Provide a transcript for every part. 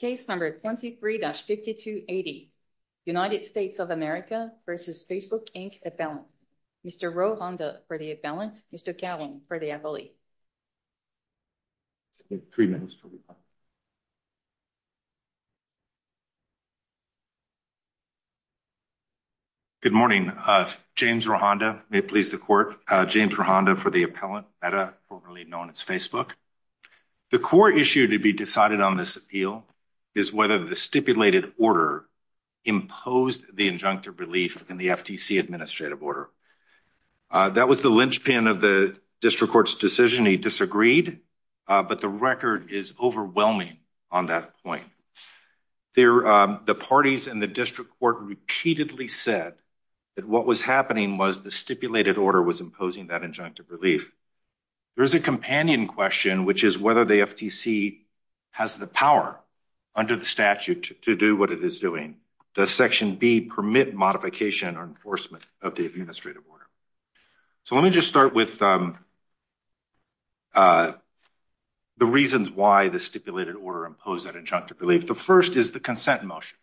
Case number 23-5280, United States of America v. Facebook, Inc. appellant. Mr. Rohanda for the appellant, Mr. Cowan for the appellee. 3 minutes. Good morning, James Rohanda, may it please the court. James Rohanda for the appellant, formerly known as Facebook. The core issue to be decided on this appeal is whether the stipulated order imposed the injunctive relief in the FTC administrative order. That was the linchpin of the district court's decision. He disagreed, but the record is overwhelming on that point. The parties in the district court repeatedly said that what was happening was the stipulated order was imposing that injunctive relief. There's a companion question, which is whether the FTC has the power under the statute to do what it is doing. Does section B permit modification or enforcement of the administrative order? So let me just start with the reasons why the stipulated order imposed that injunctive relief. The first is the consent motion.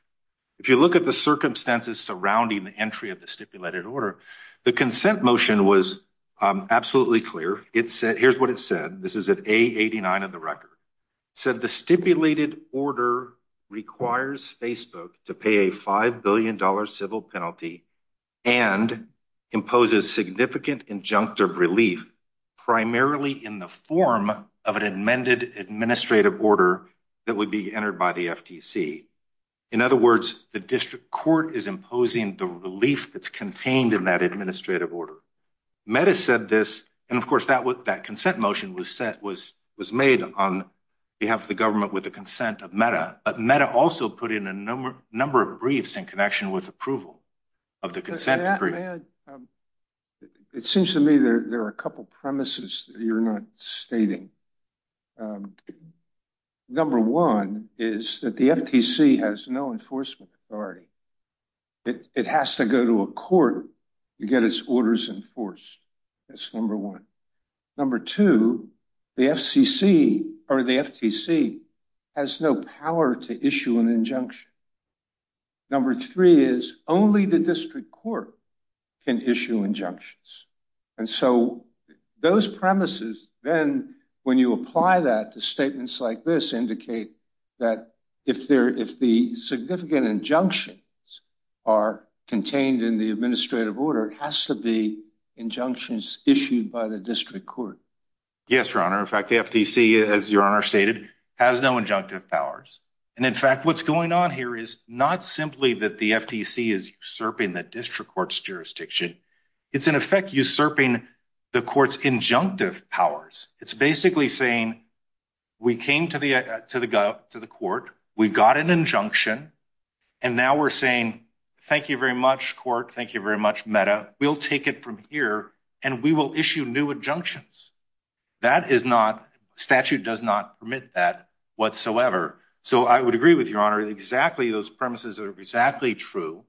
If you look at the circumstances surrounding the entry of the stipulated order, the consent motion was absolutely clear. It said here's what it said. This is a 89 of the record said the stipulated order requires Facebook to pay a five billion dollar civil penalty. And imposes significant injunctive relief, primarily in the form of an amended administrative order that would be entered by the FTC. In other words, the district court is imposing the relief that's contained in that administrative order. Metta said this. And of course, that was that consent motion was set was was made on behalf of the government with the consent of Metta. But Metta also put in a number of briefs in connection with approval of the consent. It seems to me there are a couple of premises you're not stating. Number one is that the FTC has no enforcement authority. It has to go to a court to get its orders enforced. That's number one. Number two, the FCC or the FTC has no power to issue an injunction. Number three is only the district court can issue injunctions. And so those premises, then when you apply that to statements like this, indicate that if there if the significant injunctions are contained in the administrative order has to be injunctions issued by the district court. Yes, your honor. In fact, the FTC, as your honor stated, has no injunctive powers. And in fact, what's going on here is not simply that the FTC is serving the district court's jurisdiction. It's in effect usurping the court's injunctive powers. It's basically saying we came to the to the to the court. We got an injunction. And now we're saying, thank you very much, court. Thank you very much, Metta. We'll take it from here and we will issue new injunctions. That is not statute does not permit that whatsoever. So I would agree with your honor. Exactly. Those premises are exactly true.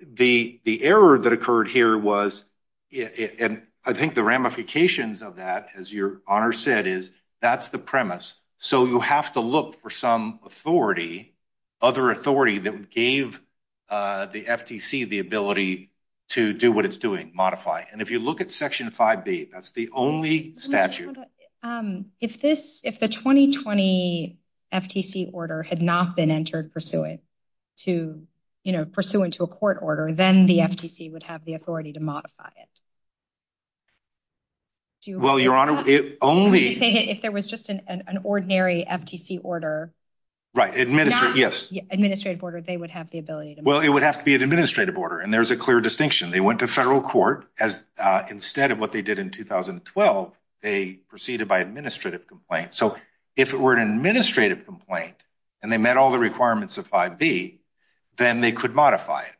The the error that occurred here was it. And I think the ramifications of that, as your honor said, is that's the premise. So you have to look for some authority, other authority that gave the FTC the ability to do what it's doing, modify. And if you look at Section 5B, that's the only statute. If this if the 2020 FTC order had not been entered pursuant to, you know, pursuant to a court order, then the FTC would have the authority to modify it. Well, your honor, it only if there was just an ordinary FTC order. Right. Administrative. Yes. Administrative order. They would have the ability to. Well, it would have to be an administrative order. And there's a clear distinction. They went to federal court as instead of what they did in 2012, they proceeded by administrative complaint. So if it were an administrative complaint and they met all the requirements of 5B, then they could modify it.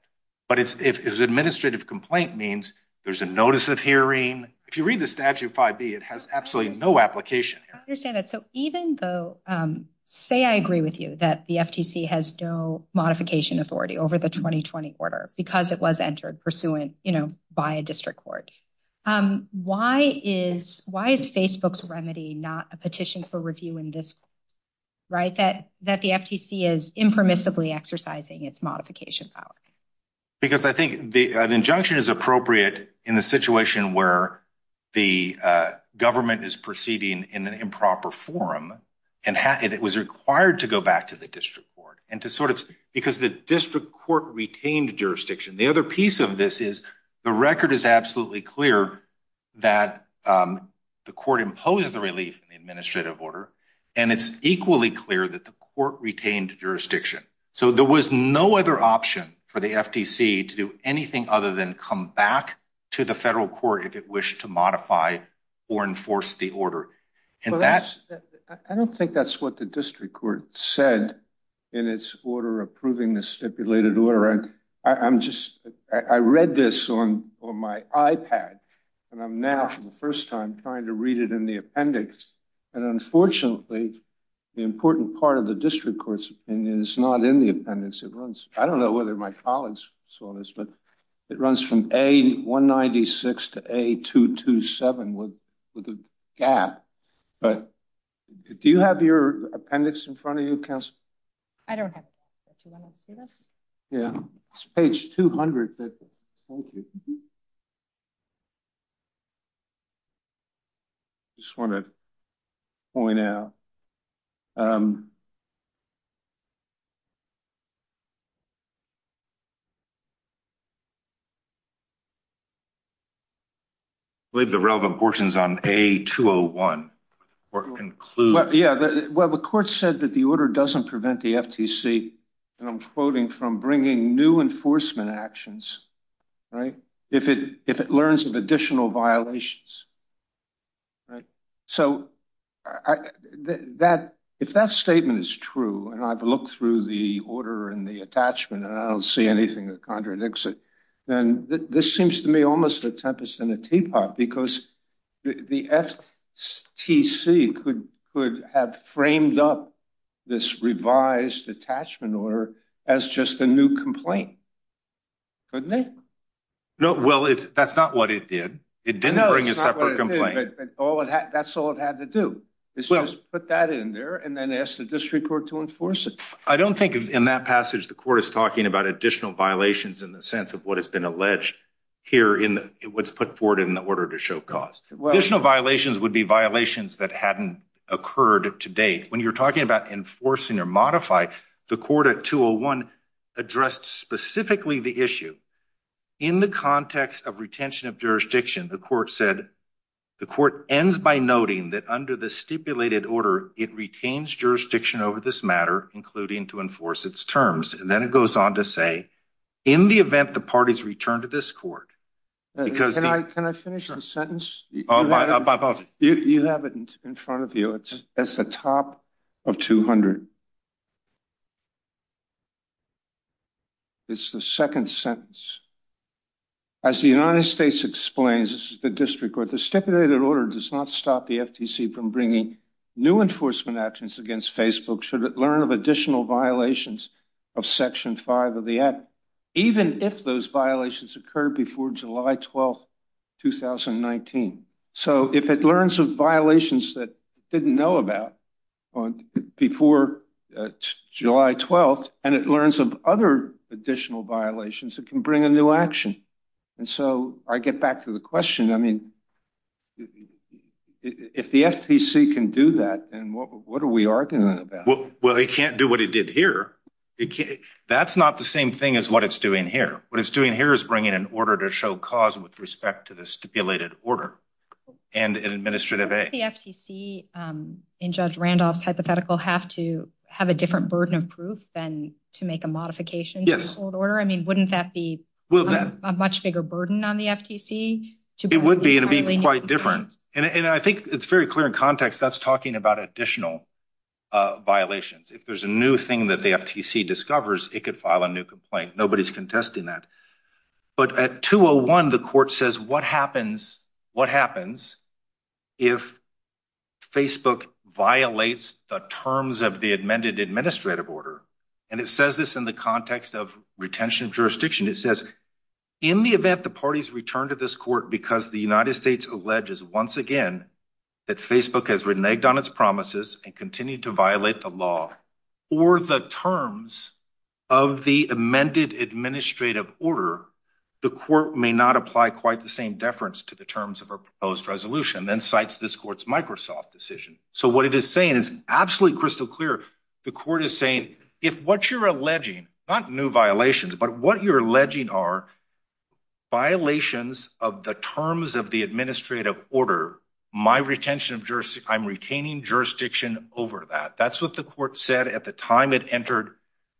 But it's if it's administrative complaint means there's a notice of hearing. If you read the statute 5B, it has absolutely no application. You're saying that. So even though, say, I agree with you that the FTC has no modification authority over the 2020 order because it was entered pursuant, you know, by a district court. Why is why is Facebook's remedy not a petition for review in this? Right, that that the FTC is impermissibly exercising its modification power. Because I think the injunction is appropriate in the situation where the government is proceeding in an improper forum and it was required to go back to the district court and to sort of because the district court retained jurisdiction. The other piece of this is the record is absolutely clear that the court imposed the relief in the administrative order. And it's equally clear that the court retained jurisdiction. So there was no other option for the FTC to do anything other than come back to the federal court if it wished to modify or enforce the order. And that's I don't think that's what the district court said in its order approving the stipulated order. And I'm just I read this on my iPad and I'm now for the first time trying to read it in the appendix. And unfortunately, the important part of the district courts is not in the appendix at once. I don't know whether my colleagues saw this, but it runs from a 196 to a 227 with with a gap. But do you have your appendix in front of you? I don't have to see this. Yeah. Page 200. Just want to point out. I believe the relevant portions on a 201 or conclude. Yeah. Well, the court said that the order doesn't prevent the FTC. And I'm quoting from bringing new enforcement actions. Right. If it if it learns of additional violations. Right. So that if that statement is true and I've looked through the order and the attachment and I don't see anything that contradicts it, then this seems to me almost a tempest in a teapot because the FTC could could have framed up this revised attachment order as just a new complaint. Couldn't they? No. Well, that's not what it did. It didn't bring a separate complaint. That's all it had to do is put that in there and then ask the district court to enforce it. I don't think in that passage, the court is talking about additional violations in the sense of what has been alleged here in what's put forward in the order to show cause. Well, there's no violations would be violations that hadn't occurred to date. When you're talking about enforcing or modify the court at 201 addressed specifically the issue in the context of retention of jurisdiction. The court said the court ends by noting that under the stipulated order, it retains jurisdiction over this matter, including to enforce its terms. And then it goes on to say, in the event the parties return to this court, because can I finish the sentence? You have it in front of you. It's at the top of 200. It's the second sentence. As the United States explains, this is the district where the stipulated order does not stop the FTC from bringing new enforcement actions against Facebook. Should it learn of additional violations of Section five of the act, even if those violations occurred before July 12th, 2019? So if it learns of violations that didn't know about before July 12th and it learns of other additional violations, it can bring a new action. And so I get back to the question. I mean, if the FTC can do that, and what are we arguing about? Well, it can't do what it did here. That's not the same thing as what it's doing here. What it's doing here is bringing an order to show cause with respect to the stipulated order. Wouldn't the FTC and Judge Randolph's hypothetical have to have a different burden of proof than to make a modification to the old order? I mean, wouldn't that be a much bigger burden on the FTC? It would be, and it would be quite different. And I think it's very clear in context that's talking about additional violations. If there's a new thing that the FTC discovers, it could file a new complaint. Nobody's contesting that. But at 201, the court says, what happens if Facebook violates the terms of the amended administrative order? And it says this in the context of retention of jurisdiction. It says, in the event the parties return to this court because the United States alleges once again that Facebook has reneged on its promises and continued to violate the law or the terms of the amended administrative order, the court may not apply quite the same deference to the terms of a proposed resolution, then cites this court's Microsoft decision. So what it is saying is absolutely crystal clear. The court is saying if what you're alleging, not new violations, but what you're alleging are violations of the terms of the administrative order, my retention of jurisdiction, I'm retaining jurisdiction over that. That's what the court said at the time it entered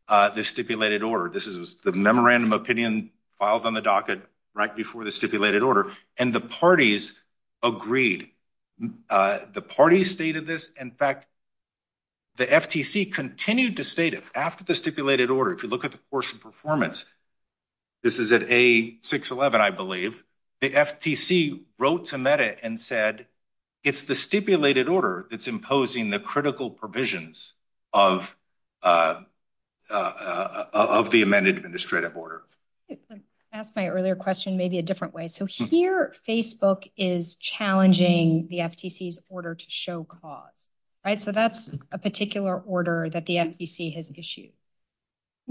the stipulated order. This is the memorandum opinion filed on the docket right before the stipulated order. And the parties agreed. The parties stated this. In fact, the FTC continued to state it after the stipulated order. If you look at the course of performance, this is at A611, I believe. The FTC wrote to MEDA and said it's the stipulated order that's imposing the critical provisions of the amended administrative order. Asked my earlier question maybe a different way. So here, Facebook is challenging the FTC's order to show cause. So that's a particular order that the FTC has issued.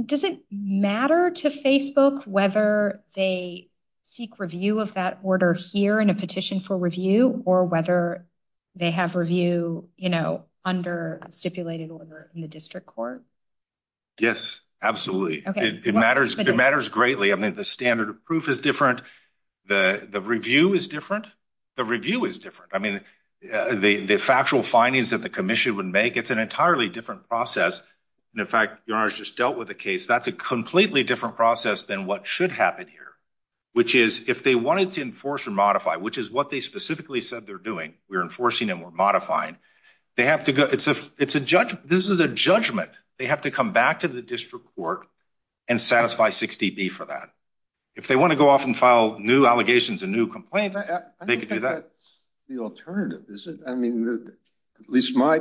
Does it matter to Facebook whether they seek review of that order here in a petition for review or whether they have review, you know, under stipulated order in the district court? Yes, absolutely. It matters. It matters greatly. I mean, the standard of proof is different. The review is different. The review is different. I mean, the factual findings that the commission would make, it's an entirely different process. In fact, your Honor, I just dealt with a case. That's a completely different process than what should happen here. Which is if they wanted to enforce or modify, which is what they specifically said they're doing. We're enforcing and we're modifying. They have to go. It's a it's a judge. This is a judgment. They have to come back to the district court and satisfy 60B for that. If they want to go off and file new allegations and new complaints, they could do that. That's the alternative, isn't it? I mean, at least my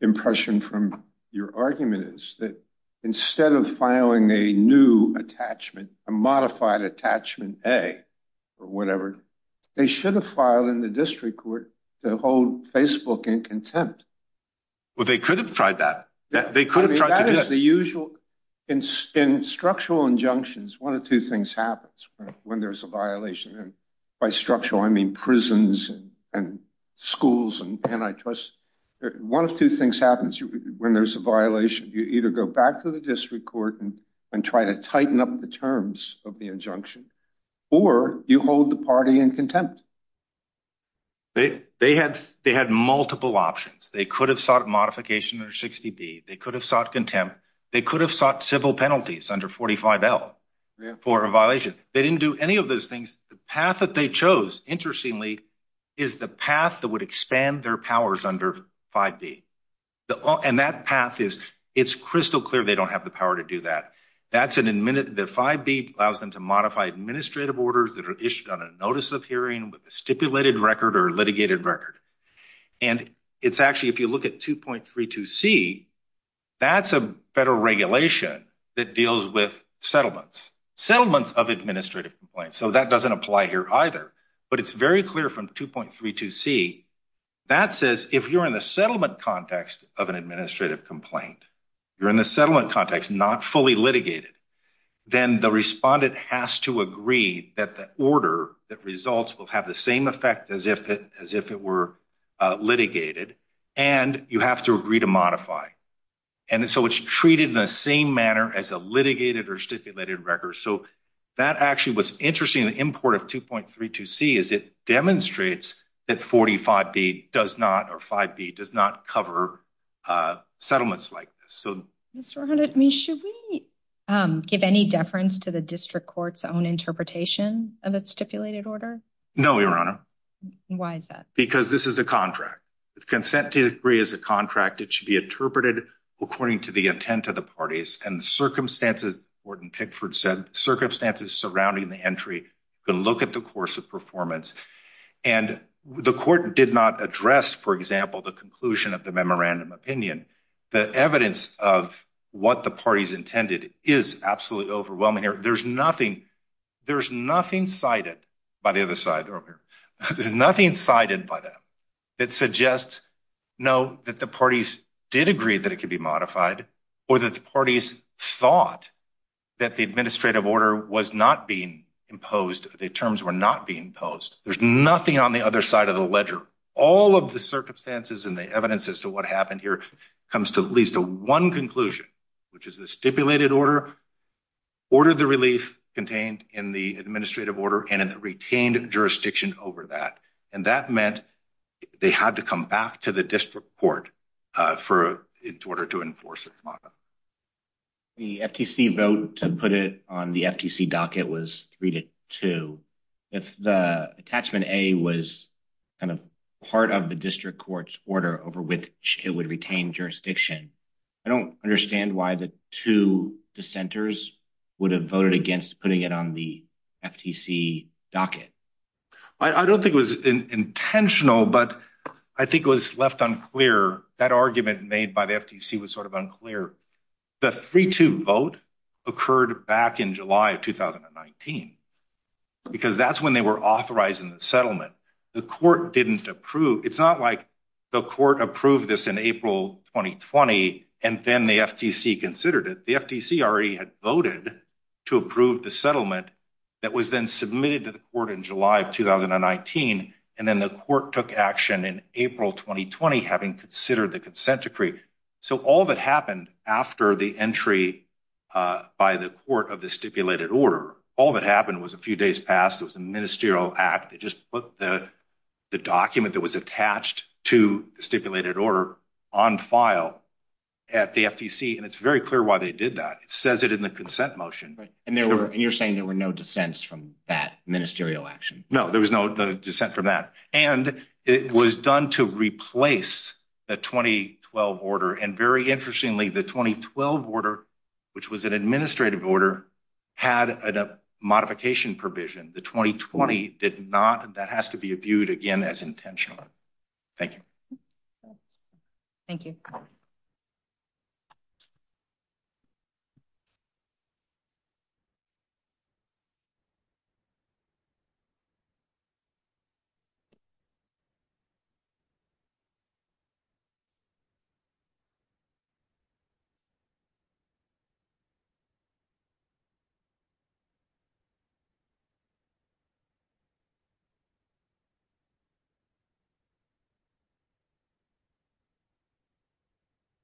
impression from your argument is that instead of filing a new attachment, a modified attachment, a or whatever, they should have filed in the district court to hold Facebook in contempt. Well, they could have tried that. They could have tried that. That is the usual. In structural injunctions, one of two things happens when there's a violation. By structural, I mean prisons and schools and antitrust. One of two things happens when there's a violation. You either go back to the district court and try to tighten up the terms of the injunction or you hold the party in contempt. They had they had multiple options. They could have sought modification or 60B. They could have sought contempt. They could have sought civil penalties under 45L for a violation. They didn't do any of those things. The path that they chose, interestingly, is the path that would expand their powers under 5B. And that path is it's crystal clear they don't have the power to do that. The 5B allows them to modify administrative orders that are issued on a notice of hearing with a stipulated record or a litigated record. And it's actually if you look at 2.32C, that's a federal regulation that deals with settlements. Settlements of administrative complaints. So that doesn't apply here either. But it's very clear from 2.32C that says if you're in the settlement context of an administrative complaint, you're in the settlement context, not fully litigated, then the respondent has to agree that the order that results will have the same effect as if it were litigated. And you have to agree to modify. And so it's treated in the same manner as a litigated or stipulated record. So that actually was interesting. The import of 2.32C is it demonstrates that 45B does not or 5B does not cover settlements like this. So should we give any deference to the district court's own interpretation of its stipulated order? No, Your Honor. Why is that? Because this is a contract. The consent decree is a contract. It should be interpreted according to the intent of the parties. And the circumstances, the court in Pickford said, circumstances surrounding the entry can look at the course of performance. And the court did not address, for example, the conclusion of the memorandum opinion. The evidence of what the parties intended is absolutely overwhelming here. There's nothing cited by the other side. There's nothing cited by them that suggests, no, that the parties did agree that it could be modified or that the parties thought that the administrative order was not being imposed, the terms were not being imposed. There's nothing on the other side of the ledger. All of the circumstances and the evidence as to what happened here comes to at least one conclusion, which is the stipulated order ordered the relief contained in the administrative order and retained jurisdiction over that. And that meant they had to come back to the district court in order to enforce it. The FTC vote to put it on the FTC docket was 3-2. If the attachment A was kind of part of the district court's order over which it would retain jurisdiction, I don't understand why the two dissenters would have voted against putting it on the FTC docket. I don't think it was intentional, but I think it was left unclear. That argument made by the FTC was sort of unclear. The 3-2 vote occurred back in July of 2019, because that's when they were authorizing the settlement. The court didn't approve. It's not like the court approved this in April 2020, and then the FTC considered it. The FTC already had voted to approve the settlement that was then submitted to the court in July of 2019, and then the court took action in April 2020, having considered the consent decree. So all that happened after the entry by the court of the stipulated order, all that happened was a few days passed. It was a ministerial act. They just put the document that was attached to the stipulated order on file at the FTC, and it's very clear why they did that. It says it in the consent motion. And you're saying there were no dissents from that ministerial action? No, there was no dissent from that. And it was done to replace the 2012 order, and very interestingly, the 2012 order, which was an administrative order, had a modification provision. The 2020 did not. That has to be viewed again as intentional. Thank you. Thank you. Thank you.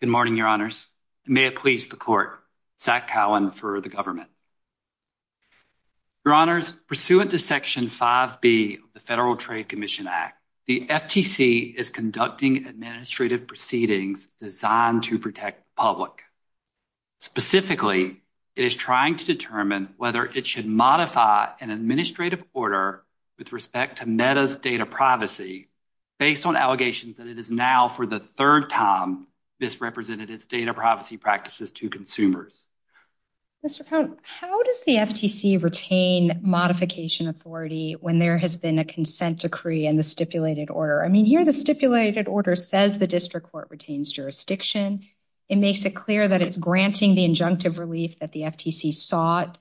Good morning, Your Honors. May it please the court. Zach Cowan for the government. Your Honors, pursuant to Section 5B of the Federal Trade Commission Act, the FTC is conducting administrative proceedings designed to protect the public. Specifically, it is trying to determine whether it should modify an administrative order with respect to MEDA's data privacy based on allegations that it is now for the third time misrepresented its data privacy practices to consumers. Mr. Cowan, how does the FTC retain modification authority when there has been a consent decree in the stipulated order? I mean, here the stipulated order says the district court retains jurisdiction. It makes it clear that it's granting the injunctive relief that the FTC sought,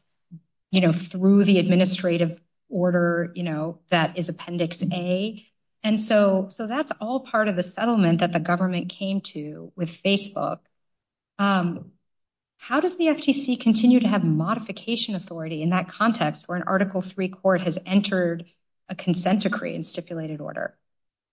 you know, through the administrative order, you know, that is Appendix A. And so that's all part of the settlement that the government came to with Facebook. How does the FTC continue to have modification authority in that context where an Article III court has entered a consent decree in stipulated order?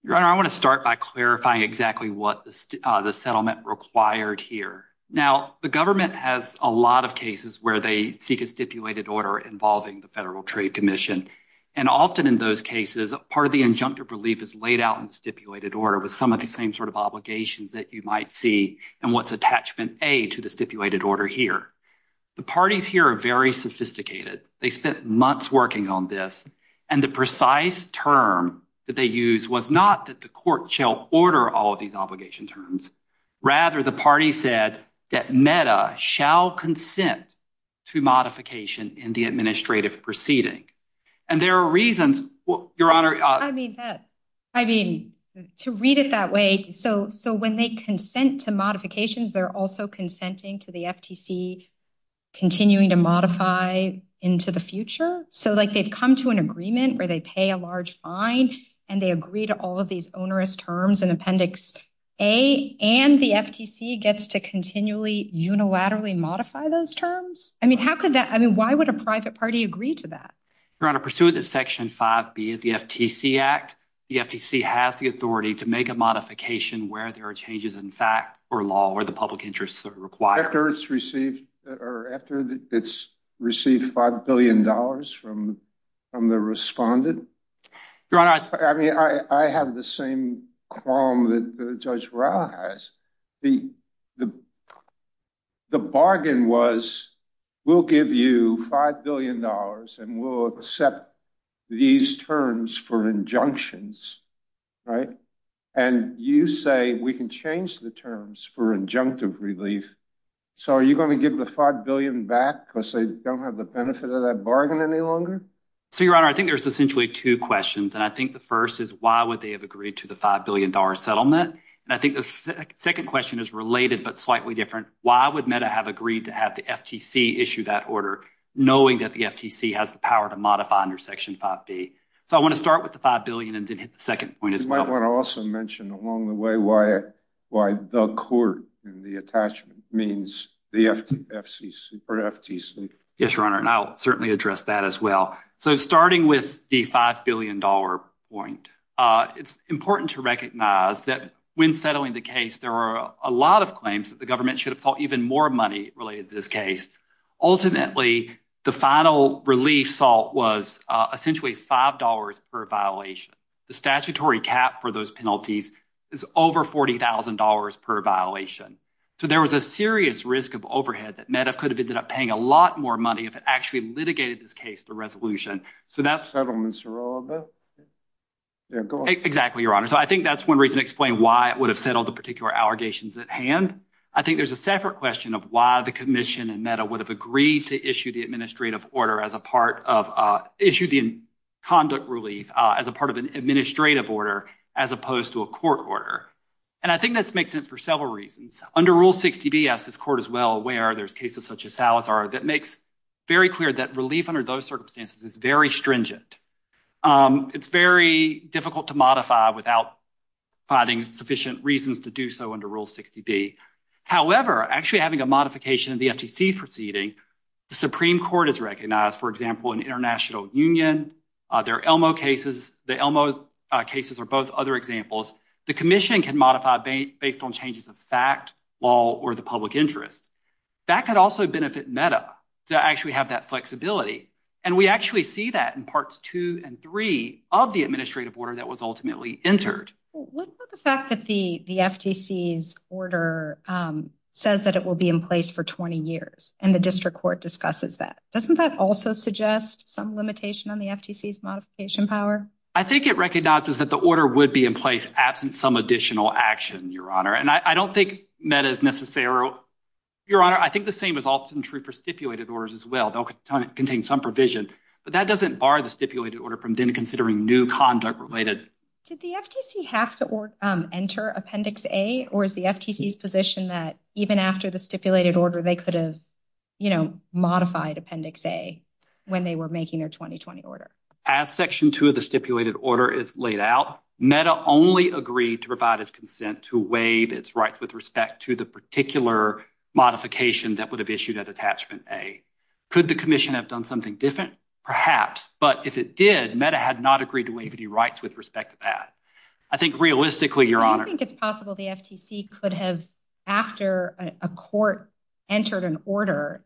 Your Honor, I want to start by clarifying exactly what the settlement required here. Now, the government has a lot of cases where they seek a stipulated order involving the Federal Trade Commission. And often in those cases, part of the injunctive relief is laid out in stipulated order with some of the same sort of obligations that you might see. And what's attachment A to the stipulated order here? The parties here are very sophisticated. They spent months working on this. And the precise term that they use was not that the court shall order all of these obligation terms. Rather, the party said that MEDA shall consent to modification in the administrative proceeding. And there are reasons, Your Honor. I mean, to read it that way. So when they consent to modifications, they're also consenting to the FTC continuing to modify into the future. So, like, they've come to an agreement where they pay a large fine and they agree to all of these onerous terms in Appendix A. And the FTC gets to continually unilaterally modify those terms? I mean, how could that? I mean, why would a private party agree to that? Your Honor, pursuant to Section 5B of the FTC Act, the FTC has the authority to make a modification where there are changes in fact or law or the public interest required. But after it's received $5 billion from the respondent? Your Honor, I mean, I have the same qualm that Judge Rauh has. The bargain was, we'll give you $5 billion and we'll accept these terms for injunctions, right? And you say we can change the terms for injunctive relief. So are you going to give the $5 billion back because they don't have the benefit of that bargain any longer? So, Your Honor, I think there's essentially two questions. And I think the first is why would they have agreed to the $5 billion settlement? And I think the second question is related but slightly different. Why would MEDA have agreed to have the FTC issue that order knowing that the FTC has the power to modify under Section 5B? So I want to start with the $5 billion and then hit the second point as well. You might want to also mention along the way why the court and the attachment means the FTC. Yes, Your Honor, and I'll certainly address that as well. So starting with the $5 billion point, it's important to recognize that when settling the case, there are a lot of claims that the government should have sought even more money related to this case. Ultimately, the final relief sought was essentially $5 per violation. The statutory cap for those penalties is over $40,000 per violation. So there was a serious risk of overhead that MEDA could have ended up paying a lot more money if it actually litigated this case to resolution. So that's… Settlements are all of it? Exactly, Your Honor. So I think that's one reason to explain why it would have settled the particular allegations at hand. I think there's a separate question of why the commission and MEDA would have agreed to issue the administrative order as a part of – issue the conduct relief as a part of an administrative order as opposed to a court order. And I think this makes sense for several reasons. Under Rule 60B, as this court is well aware, there's cases such as Salazar that makes very clear that relief under those circumstances is very stringent. It's very difficult to modify without finding sufficient reasons to do so under Rule 60B. However, actually having a modification of the FTC's proceeding, the Supreme Court has recognized, for example, an international union. There are ELMO cases. The ELMO cases are both other examples. The commission can modify based on changes of fact, law, or the public interest. That could also benefit MEDA to actually have that flexibility. And we actually see that in Parts 2 and 3 of the administrative order that was ultimately entered. What about the fact that the FTC's order says that it will be in place for 20 years, and the district court discusses that? Doesn't that also suggest some limitation on the FTC's modification power? I think it recognizes that the order would be in place absent some additional action, Your Honor. And I don't think MEDA is necessarily – Your Honor, I think the same is often true for stipulated orders as well. They'll contain some provision, but that doesn't bar the stipulated order from then considering new conduct related. Did the FTC have to enter Appendix A, or is the FTC's position that even after the stipulated order, they could have, you know, modified Appendix A when they were making their 2020 order? As Section 2 of the stipulated order is laid out, MEDA only agreed to provide its consent to waive its rights with respect to the particular modification that would have issued at Attachment A. Could the commission have done something different? Perhaps, but if it did, MEDA had not agreed to waive any rights with respect to that. I think realistically, Your Honor – So you think it's possible the FTC could have, after a court entered an order,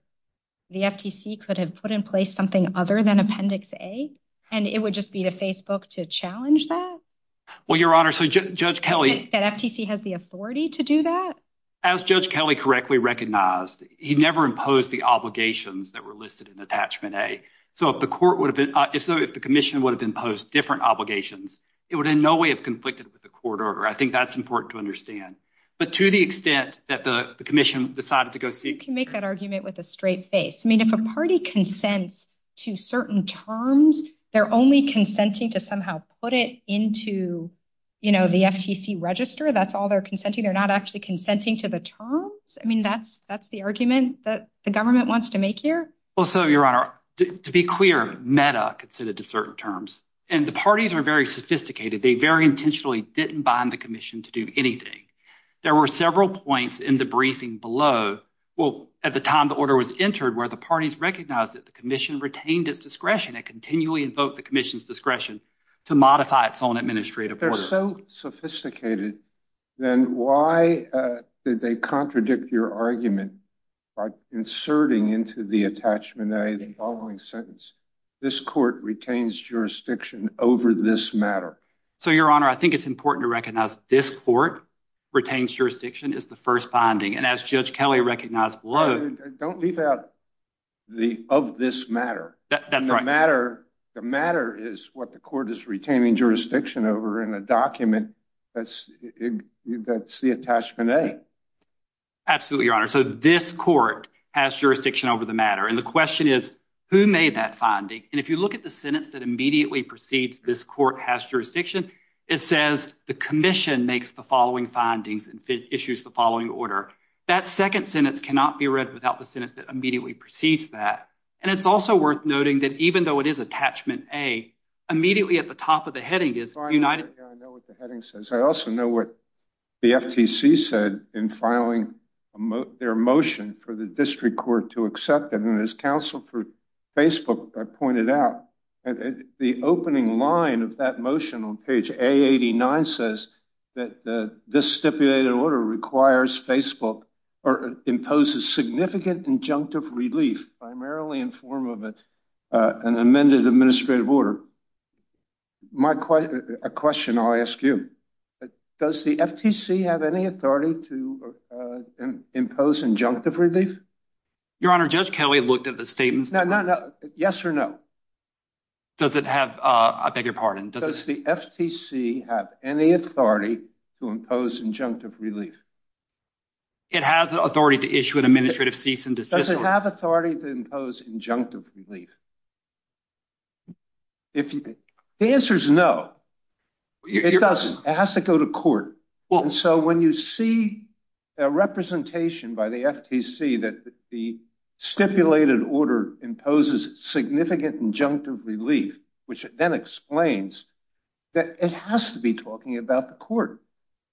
the FTC could have put in place something other than Appendix A, and it would just be to Facebook to challenge that? Well, Your Honor, so Judge Kelly – Do you think that FTC has the authority to do that? As Judge Kelly correctly recognized, he never imposed the obligations that were listed in Attachment A. So if the commission would have imposed different obligations, it would in no way have conflicted with the court order. I think that's important to understand. But to the extent that the commission decided to go see – You can make that argument with a straight face. I mean, if a party consents to certain terms, they're only consenting to somehow put it into, you know, the FTC register. That's all they're consenting. They're not actually consenting to the terms? I mean, that's the argument that the government wants to make here? Well, so, Your Honor, to be clear, META considered to certain terms, and the parties were very sophisticated. They very intentionally didn't bind the commission to do anything. There were several points in the briefing below, well, at the time the order was entered, where the parties recognized that the commission retained its discretion. It continually invoked the commission's discretion to modify its own administrative order. If they were so sophisticated, then why did they contradict your argument by inserting into the attachment A the following sentence, this court retains jurisdiction over this matter? So, Your Honor, I think it's important to recognize this court retains jurisdiction is the first binding. And as Judge Kelly recognized below – Don't leave out the of this matter. That's right. The matter is what the court is retaining jurisdiction over in a document that's the attachment A. Absolutely, Your Honor. So, this court has jurisdiction over the matter. And the question is, who made that finding? And if you look at the sentence that immediately precedes this court has jurisdiction, it says, the commission makes the following findings and issues the following order. That second sentence cannot be read without the sentence that immediately precedes that. And it's also worth noting that even though it is attachment A, immediately at the top of the heading is united – I know what the heading says. I also know what the FTC said in filing their motion for the district court to accept it. And as counsel for Facebook pointed out, the opening line of that motion on page A89 says that this stipulated order requires Facebook or imposes significant injunctive relief primarily in form of an amended administrative order. My question – a question I'll ask you. Does the FTC have any authority to impose injunctive relief? Your Honor, Judge Kelly looked at the statement. No, no, no. Yes or no? Does it have – I beg your pardon. Does the FTC have any authority to impose injunctive relief? It has authority to issue an administrative cease and desist. Does it have authority to impose injunctive relief? The answer is no. It doesn't. It has to go to court. And so when you see a representation by the FTC that the stipulated order imposes significant injunctive relief, which then explains that it has to be talking about the court.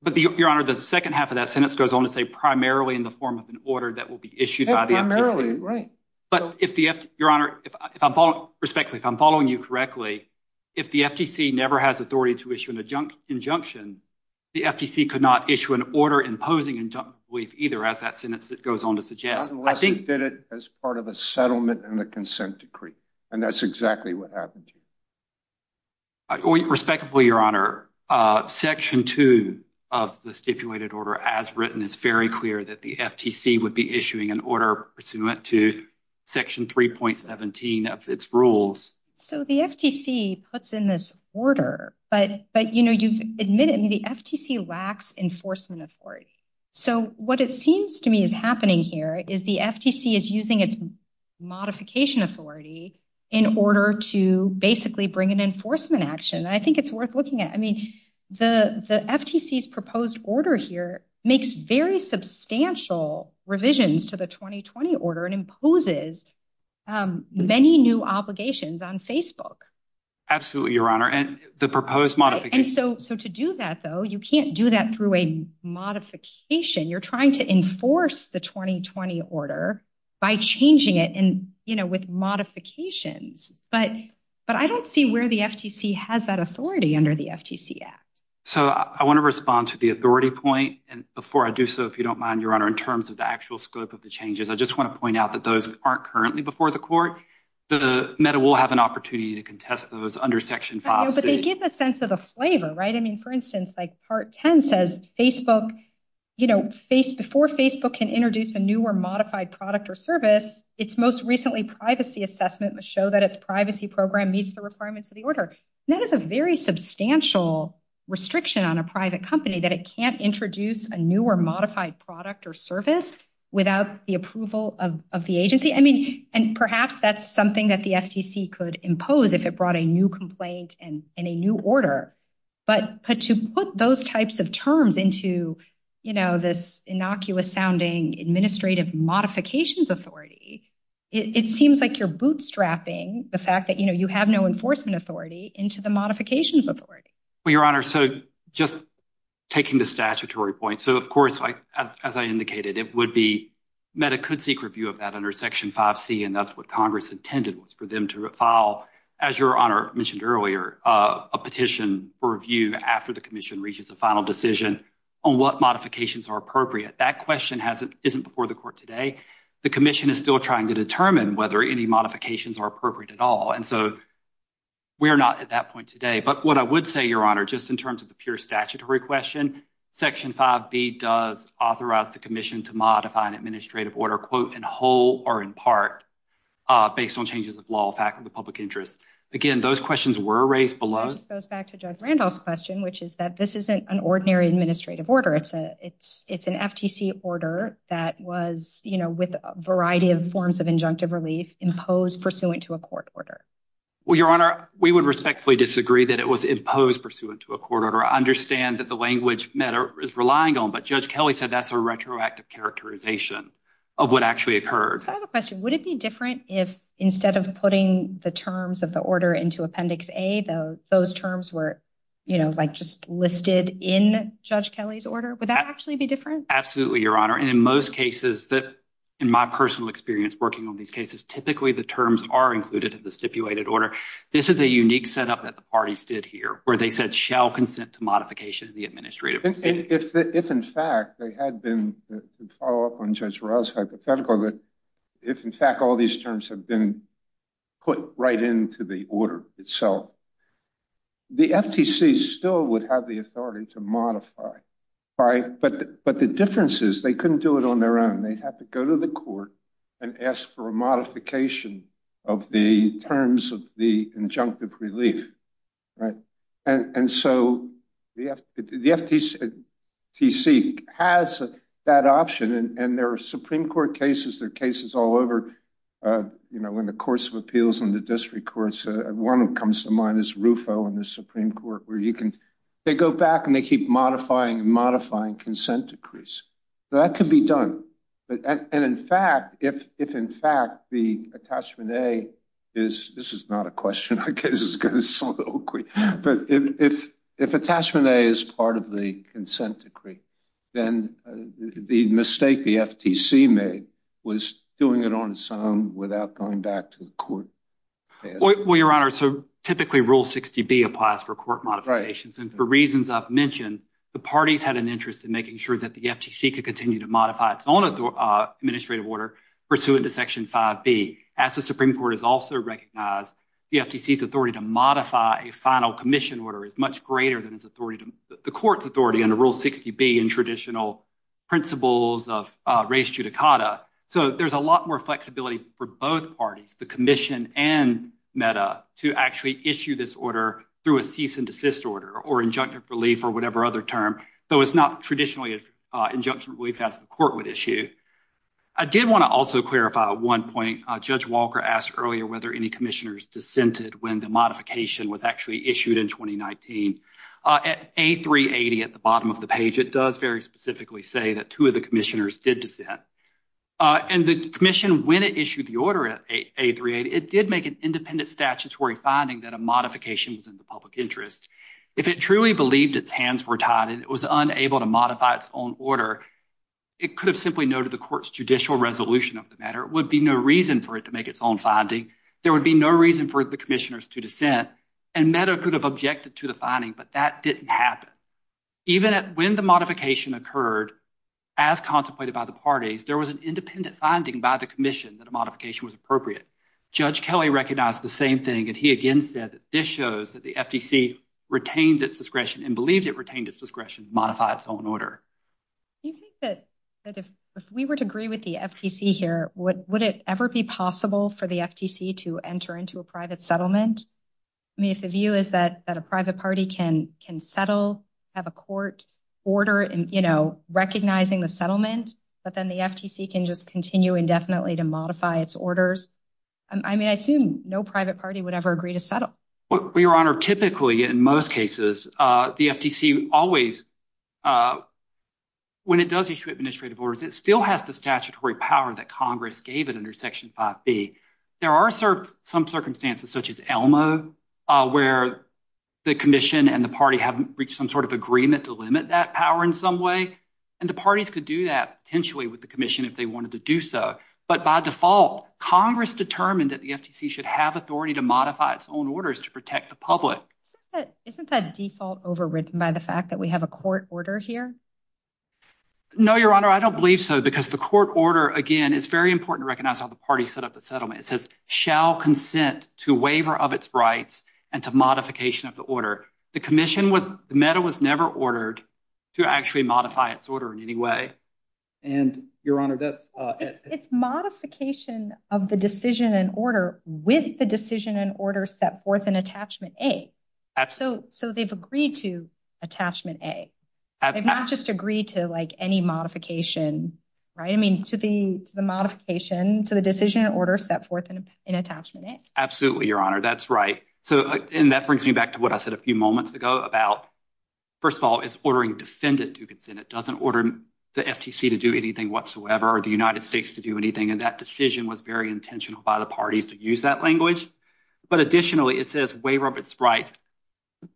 But, Your Honor, the second half of that sentence goes on to say primarily in the form of an order that will be issued by the FTC. Primarily, right. But if the – Your Honor, if I'm following – respectfully, if I'm following you correctly, if the FTC never has authority to issue an injunction, the FTC could not issue an order imposing injunctive relief either, as that sentence goes on to suggest. Unless it did it as part of a settlement and a consent decree, and that's exactly what happened to you. Respectfully, Your Honor, Section 2 of the stipulated order, as written, is very clear that the FTC would be issuing an order pursuant to Section 3.17 of its rules. So the FTC puts in this order, but, you know, you've admitted the FTC lacks enforcement authority. So what it seems to me is happening here is the FTC is using its modification authority in order to basically bring an enforcement action. And I think it's worth looking at. I mean, the FTC's proposed order here makes very substantial revisions to the 2020 order and imposes many new obligations on Facebook. Absolutely, Your Honor. And the proposed modification – And so to do that, though, you can't do that through a modification. You're trying to enforce the 2020 order by changing it and, you know, with modifications. But I don't see where the FTC has that authority under the FTC Act. So I want to respond to the authority point. And before I do so, if you don't mind, Your Honor, in terms of the actual scope of the changes, I just want to point out that those aren't currently before the court. The META will have an opportunity to contest those under Section 5c. But they give a sense of the flavor, right? I mean, for instance, like Part 10 says Facebook – you know, before Facebook can introduce a new or modified product or service, its most recently privacy assessment must show that its privacy program meets the requirements of the order. That is a very substantial restriction on a private company that it can't introduce a new or modified product or service without the approval of the agency. I mean, and perhaps that's something that the FTC could impose if it brought a new complaint and a new order. But to put those types of terms into, you know, this innocuous-sounding administrative modifications authority, it seems like you're bootstrapping the fact that, you know, you have no enforcement authority into the modifications authority. Well, Your Honor, so just taking the statutory point. So, of course, as I indicated, it would be – META could seek review of that under Section 5c, and that's what Congress intended was for them to file, as Your Honor mentioned earlier, a petition for review after the Commission reaches a final decision on what modifications are appropriate. That question hasn't – isn't before the Court today. The Commission is still trying to determine whether any modifications are appropriate at all, and so we're not at that point today. But what I would say, Your Honor, just in terms of the pure statutory question, Section 5b does authorize the Commission to modify an administrative order, quote, in whole or in part based on changes of law or fact of the public interest. Again, those questions were raised below. This goes back to Judge Randolph's question, which is that this isn't an ordinary administrative order. It's an FTC order that was, you know, with a variety of forms of injunctive relief imposed pursuant to a court order. Well, Your Honor, we would respectfully disagree that it was imposed pursuant to a court order. I understand that the language META is relying on, but Judge Kelly said that's a retroactive characterization of what actually occurred. I have a question. Would it be different if instead of putting the terms of the order into Appendix A, those terms were, you know, like just listed in Judge Kelly's order? Would that actually be different? Absolutely, Your Honor. And in most cases, in my personal experience working on these cases, typically the terms are included in the stipulated order. This is a unique setup that the parties did here where they said shall consent to modification of the administrative order. If in fact they had been, to follow up on Judge Rao's hypothetical, if in fact all these terms have been put right into the order itself, the FTC still would have the authority to modify. But the difference is they couldn't do it on their own. They'd have to go to the court and ask for a modification of the terms of the injunctive relief. And so the FTC has that option. And there are Supreme Court cases, there are cases all over, you know, in the courts of appeals and the district courts. One that comes to mind is RUFO in the Supreme Court where you can go back and they keep modifying and modifying consent decrees. That could be done. And in fact, if in fact the attachment A is, this is not a question, but if attachment A is part of the consent decree, then the mistake the FTC made was doing it on its own without going back to the court. Well, Your Honor, so typically Rule 60B applies for court modifications. And for reasons I've mentioned, the parties had an interest in making sure that the FTC could continue to modify its own administrative order pursuant to Section 5B. As the Supreme Court has also recognized, the FTC's authority to modify a final commission order is much greater than the court's authority under Rule 60B in traditional principles of res judicata. So there's a lot more flexibility for both parties, the commission and MEDA, to actually issue this order through a cease and desist order or injunctive relief or whatever other term, though it's not traditionally injunctive relief as the court would issue. I did want to also clarify one point. Judge Walker asked earlier whether any commissioners dissented when the modification was actually issued in 2019. At A380, at the bottom of the page, it does very specifically say that two of the commissioners did dissent. And the commission, when it issued the order at A380, it did make an independent statutory finding that a modification was in the public interest. If it truly believed its hands were tied and it was unable to modify its own order, it could have simply noted the court's judicial resolution of the matter. It would be no reason for it to make its own finding. There would be no reason for the commissioners to dissent. And MEDA could have objected to the finding, but that didn't happen. Even when the modification occurred, as contemplated by the parties, there was an independent finding by the commission that a modification was appropriate. Judge Kelly recognized the same thing. And he again said that this shows that the FTC retained its discretion and believed it retained its discretion to modify its own order. Do you think that if we were to agree with the FTC here, would it ever be possible for the FTC to enter into a private settlement? I mean, if the view is that a private party can settle, have a court order, you know, recognizing the settlement, but then the FTC can just continue indefinitely to modify its orders. I mean, I assume no private party would ever agree to settle. Your Honor, typically in most cases, the FTC always, when it does issue administrative orders, it still has the statutory power that Congress gave it under Section 5B. There are some circumstances, such as ELMO, where the commission and the party have reached some sort of agreement to limit that power in some way. And the parties could do that potentially with the commission if they wanted to do so. But by default, Congress determined that the FTC should have authority to modify its own orders to protect the public. Isn't that default overridden by the fact that we have a court order here? No, Your Honor, I don't believe so, because the court order, again, is very important to recognize how the party set up the settlement. It says, shall consent to waiver of its rights and to modification of the order. The commission was never ordered to actually modify its order in any way. And, Your Honor, that's— It's modification of the decision and order with the decision and order set forth in Attachment A. So they've agreed to Attachment A. They've not just agreed to, like, any modification, right? I mean, to the modification, to the decision and order set forth in Attachment A. Absolutely, Your Honor, that's right. And that brings me back to what I said a few moments ago about, first of all, it's ordering defendant to consent. It doesn't order the FTC to do anything whatsoever or the United States to do anything. And that decision was very intentional by the parties to use that language. But additionally, it says waiver of its rights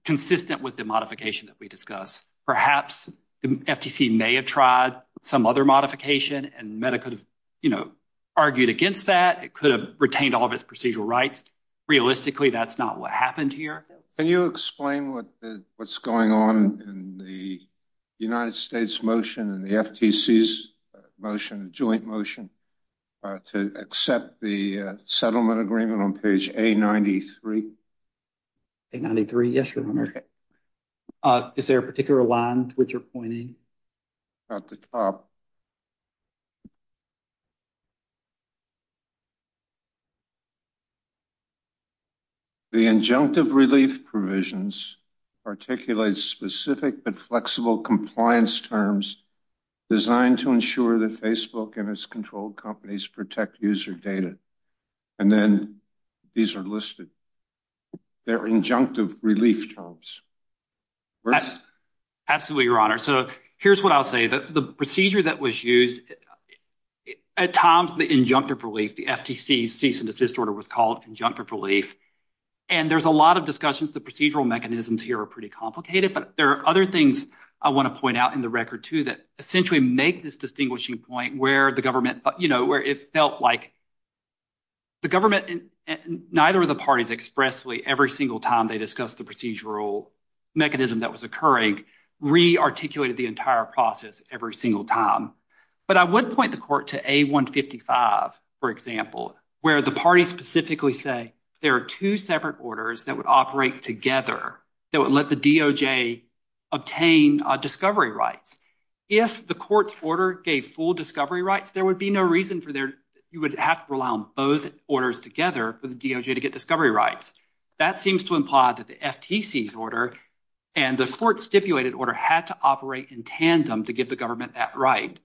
consistent with the modification that we discussed. Perhaps the FTC may have tried some other modification, and MEDA could have, you know, argued against that. It could have retained all of its procedural rights. Realistically, that's not what happened here. Can you explain what's going on in the United States motion and the FTC's motion, joint motion, to accept the settlement agreement on page A93? A93, yes, Your Honor. Is there a particular line to which you're pointing? At the top. The injunctive relief provisions articulate specific but flexible compliance terms designed to ensure that Facebook and its controlled companies protect user data. And then these are listed. They're injunctive relief terms. Absolutely, Your Honor. So here's what I'll say. The procedure that was used at times, the injunctive relief, the FTC's cease and desist order was called injunctive relief. And there's a lot of discussions. The procedural mechanisms here are pretty complicated. But there are other things I want to point out in the record, too, that essentially make this distinguishing point where the government, you know, where it felt like the government and neither of the parties expressly every single time they discussed the procedural mechanism that was occurring re-articulated the entire process every single time. But I would point the court to A155, for example, where the parties specifically say there are two separate orders that would operate together that would let the DOJ obtain discovery rights. If the court's order gave full discovery rights, there would be no reason for there – you would have to rely on both orders together for the DOJ to get discovery rights. That seems to imply that the FTC's order and the court's stipulated order had to operate in tandem to give the government that right.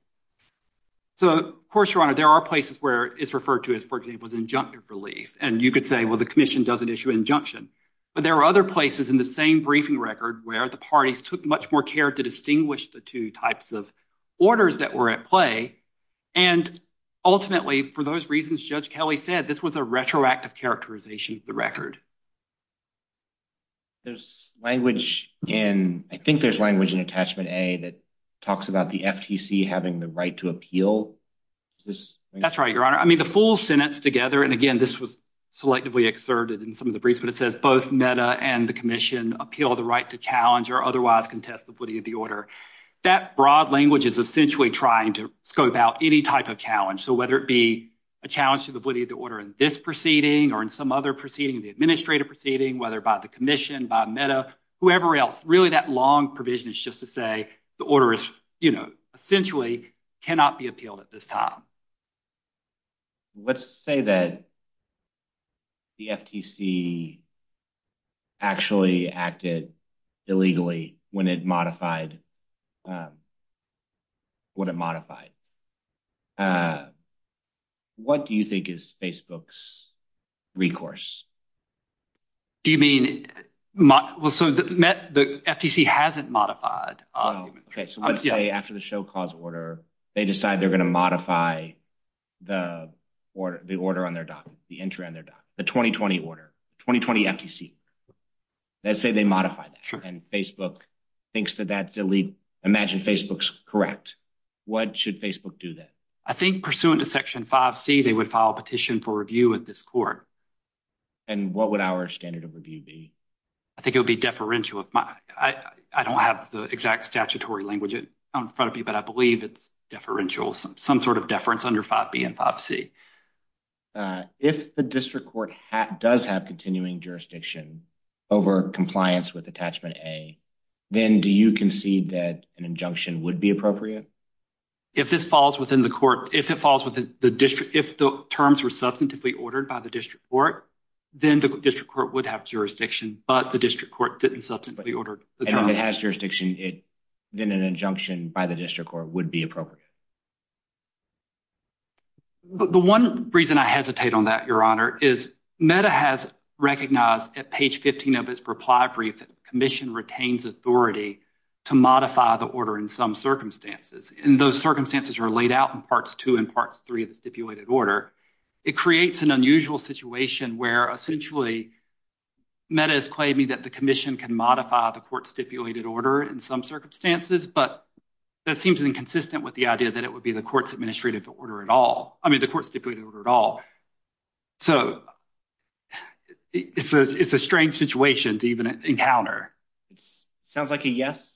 So, of course, Your Honor, there are places where it's referred to as, for example, injunctive relief. And you could say, well, the commission doesn't issue injunction. But there are other places in the same briefing record where the parties took much more care to distinguish the two types of orders that were at play. And ultimately, for those reasons Judge Kelly said, this was a retroactive characterization of the record. There's language in – I think there's language in Attachment A that talks about the FTC having the right to appeal. That's right, Your Honor. I mean, the full sentence together – and again, this was selectively exerted in some of the briefs – but it says both MEDA and the commission appeal the right to challenge or otherwise contest the woody of the order. That broad language is essentially trying to scope out any type of challenge. So whether it be a challenge to the woody of the order in this proceeding or in some other proceeding, the administrative proceeding, whether by the commission, by MEDA, whoever else, really that long provision is just to say the order is, you know, essentially cannot be appealed at this time. Let's say that the FTC actually acted illegally when it modified what it modified. What do you think is Facebook's recourse? Do you mean – well, so the FTC hasn't modified. So let's say after the show cause order, they decide they're going to modify the order on their document, the entry on their document, the 2020 order, 2020 FTC. Let's say they modify that, and Facebook thinks that that's illegal. Imagine Facebook's correct. What should Facebook do then? I think pursuant to Section 5C, they would file a petition for review at this court. And what would our standard of review be? I think it would be deferential. I don't have the exact statutory language in front of me, but I believe it's deferential, some sort of deference under 5B and 5C. If the district court does have continuing jurisdiction over compliance with Attachment A, then do you concede that an injunction would be appropriate? If this falls within the court – if it falls within the district – if the terms were substantively ordered by the district court, then the district court would have jurisdiction, but the district court didn't substantively order the terms. And if it has jurisdiction, then an injunction by the district court would be appropriate. The one reason I hesitate on that, Your Honor, is META has recognized at page 15 of its reply brief that the commission retains authority to modify the order in some circumstances. And those circumstances are laid out in Parts 2 and Parts 3 of the stipulated order. It creates an unusual situation where essentially META is claiming that the commission can modify the court-stipulated order in some circumstances, but that seems inconsistent with the idea that it would be the court's administrative order at all – I mean, the court-stipulated order at all. So it's a strange situation to even encounter. It sounds like a yes.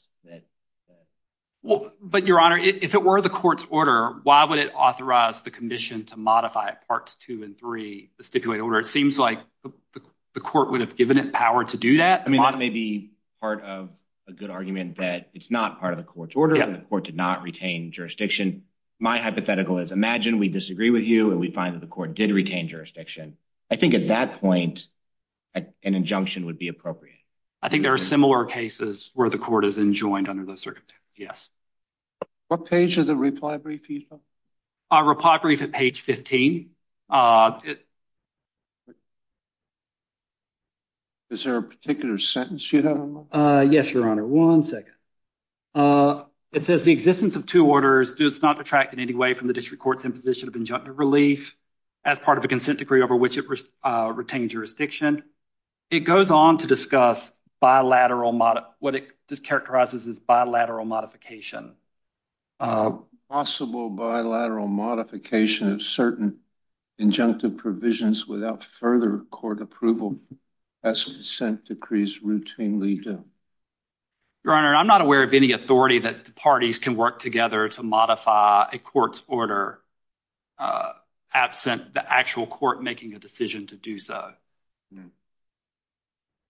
But, Your Honor, if it were the court's order, why would it authorize the commission to modify Parts 2 and 3 of the stipulated order? It seems like the court would have given it power to do that. I mean, that may be part of a good argument that it's not part of the court's order and the court did not retain jurisdiction. My hypothetical is imagine we disagree with you and we find that the court did retain jurisdiction. I think at that point, an injunction would be appropriate. I think there are similar cases where the court is enjoined under those circumstances. Yes. What page of the reply brief are you talking about? Reply brief at page 15. Is there a particular sentence you have in mind? Yes, Your Honor. One second. It says the existence of two orders does not detract in any way from the district court's imposition of injunctive relief as part of a consent decree over which it retained jurisdiction. It goes on to discuss what it characterizes as bilateral modification. Possible bilateral modification of certain injunctive provisions without further court approval as consent decrees routinely do. Your Honor, I'm not aware of any authority that the parties can work together to modify a court's order absent the actual court making a decision to do so.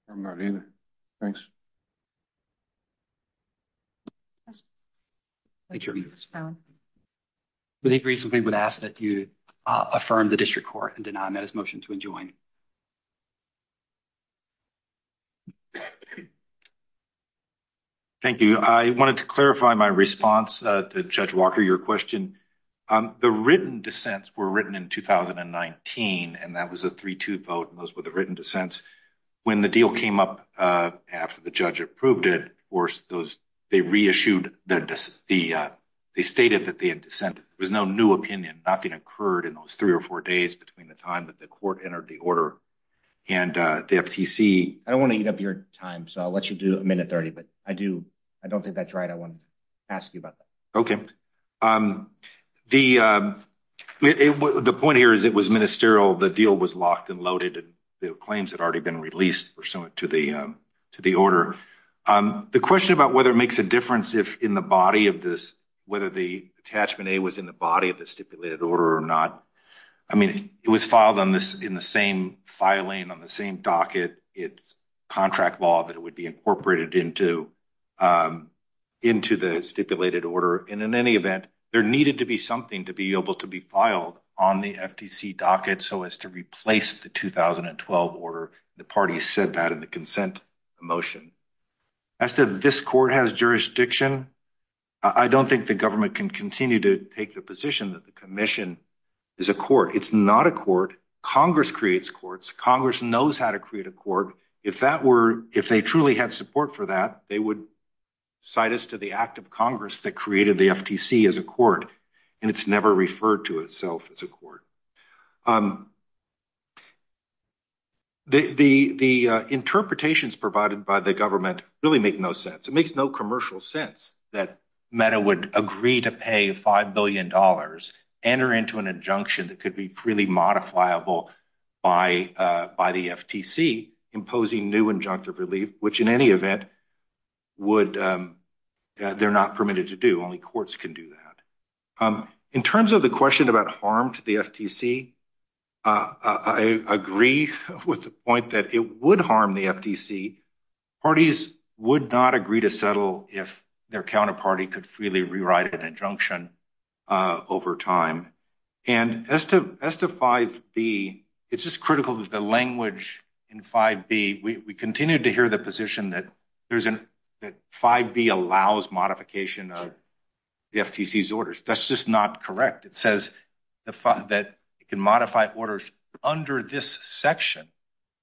I'm not either. Thanks. Thank you. Thank you. I wanted to clarify my response to Judge Walker, your question. The written dissents were written in 2019, and that was a 3-2 vote, and those were the written dissents. When the deal came up after the judge approved it, of course, they reissued the decision. They stated that they had dissented. There was no new opinion. Nothing occurred in those 3 or 4 days between the time that the court entered the order and the FTC. I don't want to eat up your time, so I'll let you do a minute 30, but I don't think that's right. I want to ask you about that. Okay. The point here is it was ministerial. The deal was locked and loaded, and the claims had already been released pursuant to the order. The question about whether it makes a difference in the body of this, whether the attachment A was in the body of the stipulated order or not, I mean, it was filed in the same filing on the same docket. It's contract law that it would be incorporated into the stipulated order, and in any event, there needed to be something to be able to be filed on the FTC docket so as to replace the 2012 order. The parties said that in the consent motion. As to this court has jurisdiction, I don't think the government can continue to take the position that the commission is a court. It's not a court. Congress creates courts. Congress knows how to create a court. If they truly had support for that, they would cite us to the act of Congress that created the FTC as a court, and it's never referred to itself as a court. The interpretations provided by the government really make no sense. It makes no commercial sense that MEDA would agree to pay $5 billion, enter into an injunction that could be freely modifiable by the FTC, imposing new injunctive relief, which in any event, they're not permitted to do. Only courts can do that. In terms of the question about harm to the FTC, I agree with the point that it would harm the FTC. Parties would not agree to settle if their counterparty could freely rewrite an injunction over time. And as to 5B, it's just critical that the language in 5B, we continue to hear the position that 5B allows modification of the FTC's orders. That's just not correct. It says that it can modify orders under this section.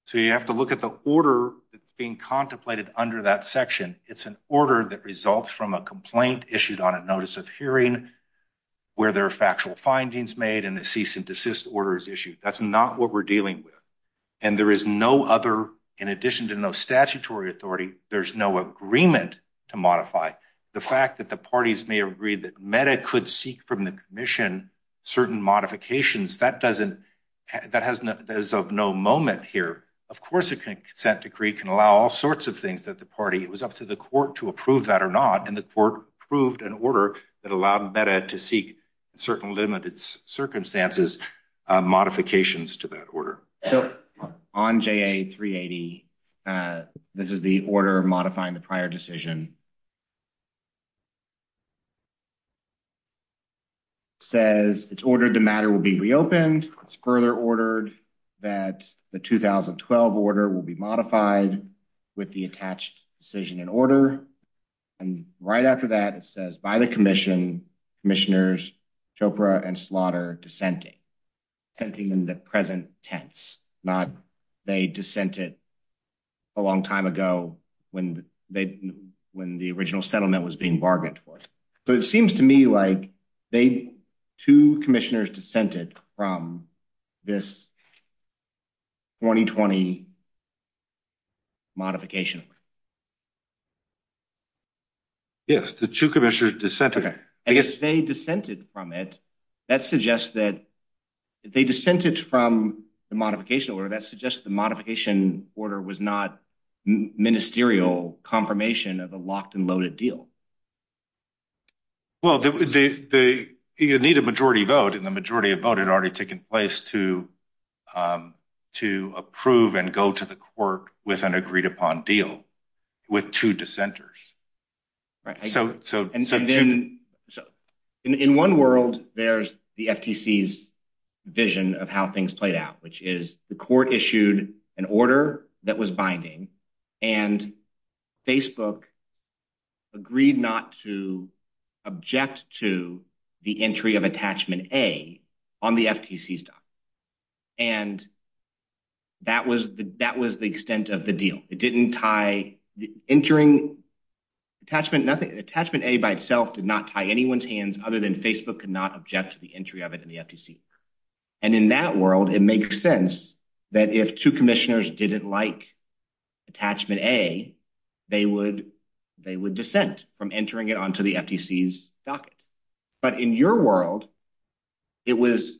So you have to look at the order that's being contemplated under that section. It's an order that results from a complaint issued on a notice of hearing where there are factual findings made and a cease and desist order is issued. That's not what we're dealing with. And there is no other, in addition to no statutory authority, there's no agreement to modify. The fact that the parties may agree that MEDA could seek from the commission certain modifications, that is of no moment here. Of course a consent decree can allow all sorts of things that the party, it was up to the court to approve that or not, and the court approved an order that allowed MEDA to seek certain limited circumstances, modifications to that order. So on JA380, this is the order modifying the prior decision. It says it's ordered the matter will be reopened. It's further ordered that the 2012 order will be modified with the attached decision in order. And right after that, it says, by the commission, commissioners, Chopra and Slaughter dissenting, dissenting in the present tense, not they dissented a long time ago when the original settlement was being bargained for. So it seems to me like they, two commissioners dissented from this 2020 modification. Yes, the two commissioners dissented. I guess they dissented from it. That suggests that they dissented from the modification order. That suggests the modification order was not ministerial confirmation of the locked and loaded deal. Well, they need a majority vote, and the majority of vote had already taken place to approve and go to the court with an agreed upon deal. With two dissenters. So in one world, there's the FTC's vision of how things played out, which is the court issued an order that was binding, and Facebook agreed not to object to the entry of attachment A on the FTC's document. And that was the extent of the deal. It didn't tie entering attachment A by itself, did not tie anyone's hands other than Facebook could not object to the entry of it in the FTC. And in that world, it makes sense that if two commissioners didn't like attachment A, they would dissent from entering it onto the FTC's docket. But in your world, it was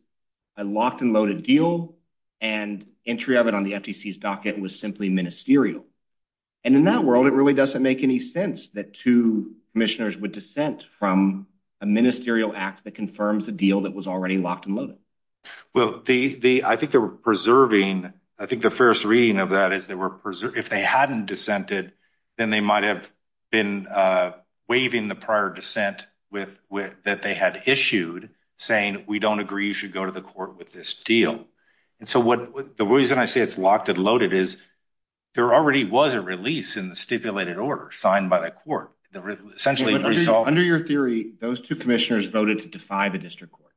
a locked and loaded deal, and entry of it on the FTC's docket was simply ministerial. And in that world, it really doesn't make any sense that two commissioners would dissent from a ministerial act that confirms a deal that was already locked and loaded. Well, I think the first reading of that is if they hadn't dissented, then they might have been waiving the prior dissent that they had issued, saying we don't agree you should go to the court with this deal. And so the reason I say it's locked and loaded is there already was a release in the stipulated order signed by the court. Under your theory, those two commissioners voted to defy the district court.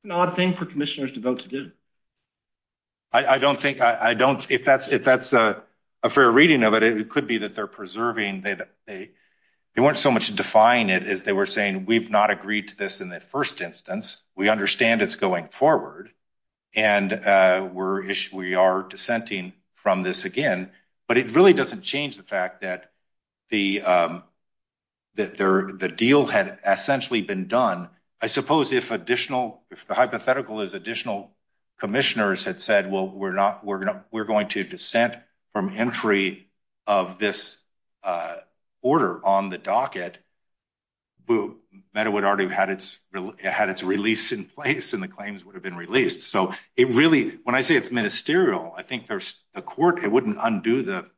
It's an odd thing for commissioners to vote to do. I don't think I don't if that's if that's a fair reading of it, it could be that they're preserving. They weren't so much defying it as they were saying, we've not agreed to this in the first instance. We understand it's going forward and we're we are dissenting from this again. But it really doesn't change the fact that the that the deal had essentially been done. I suppose if additional if the hypothetical is additional commissioners had said, well, we're not we're going to we're going to dissent from entry of this order on the docket. But it would already had its had its release in place and the claims would have been released. So it really when I say it's ministerial, I think there's a court. It wouldn't undo the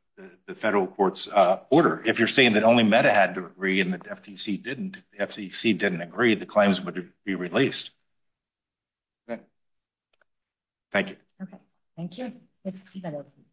federal court's order. If you're saying that only Meta had to agree in the FTC didn't FTC didn't agree, the claims would be released. Thank you. Thank you.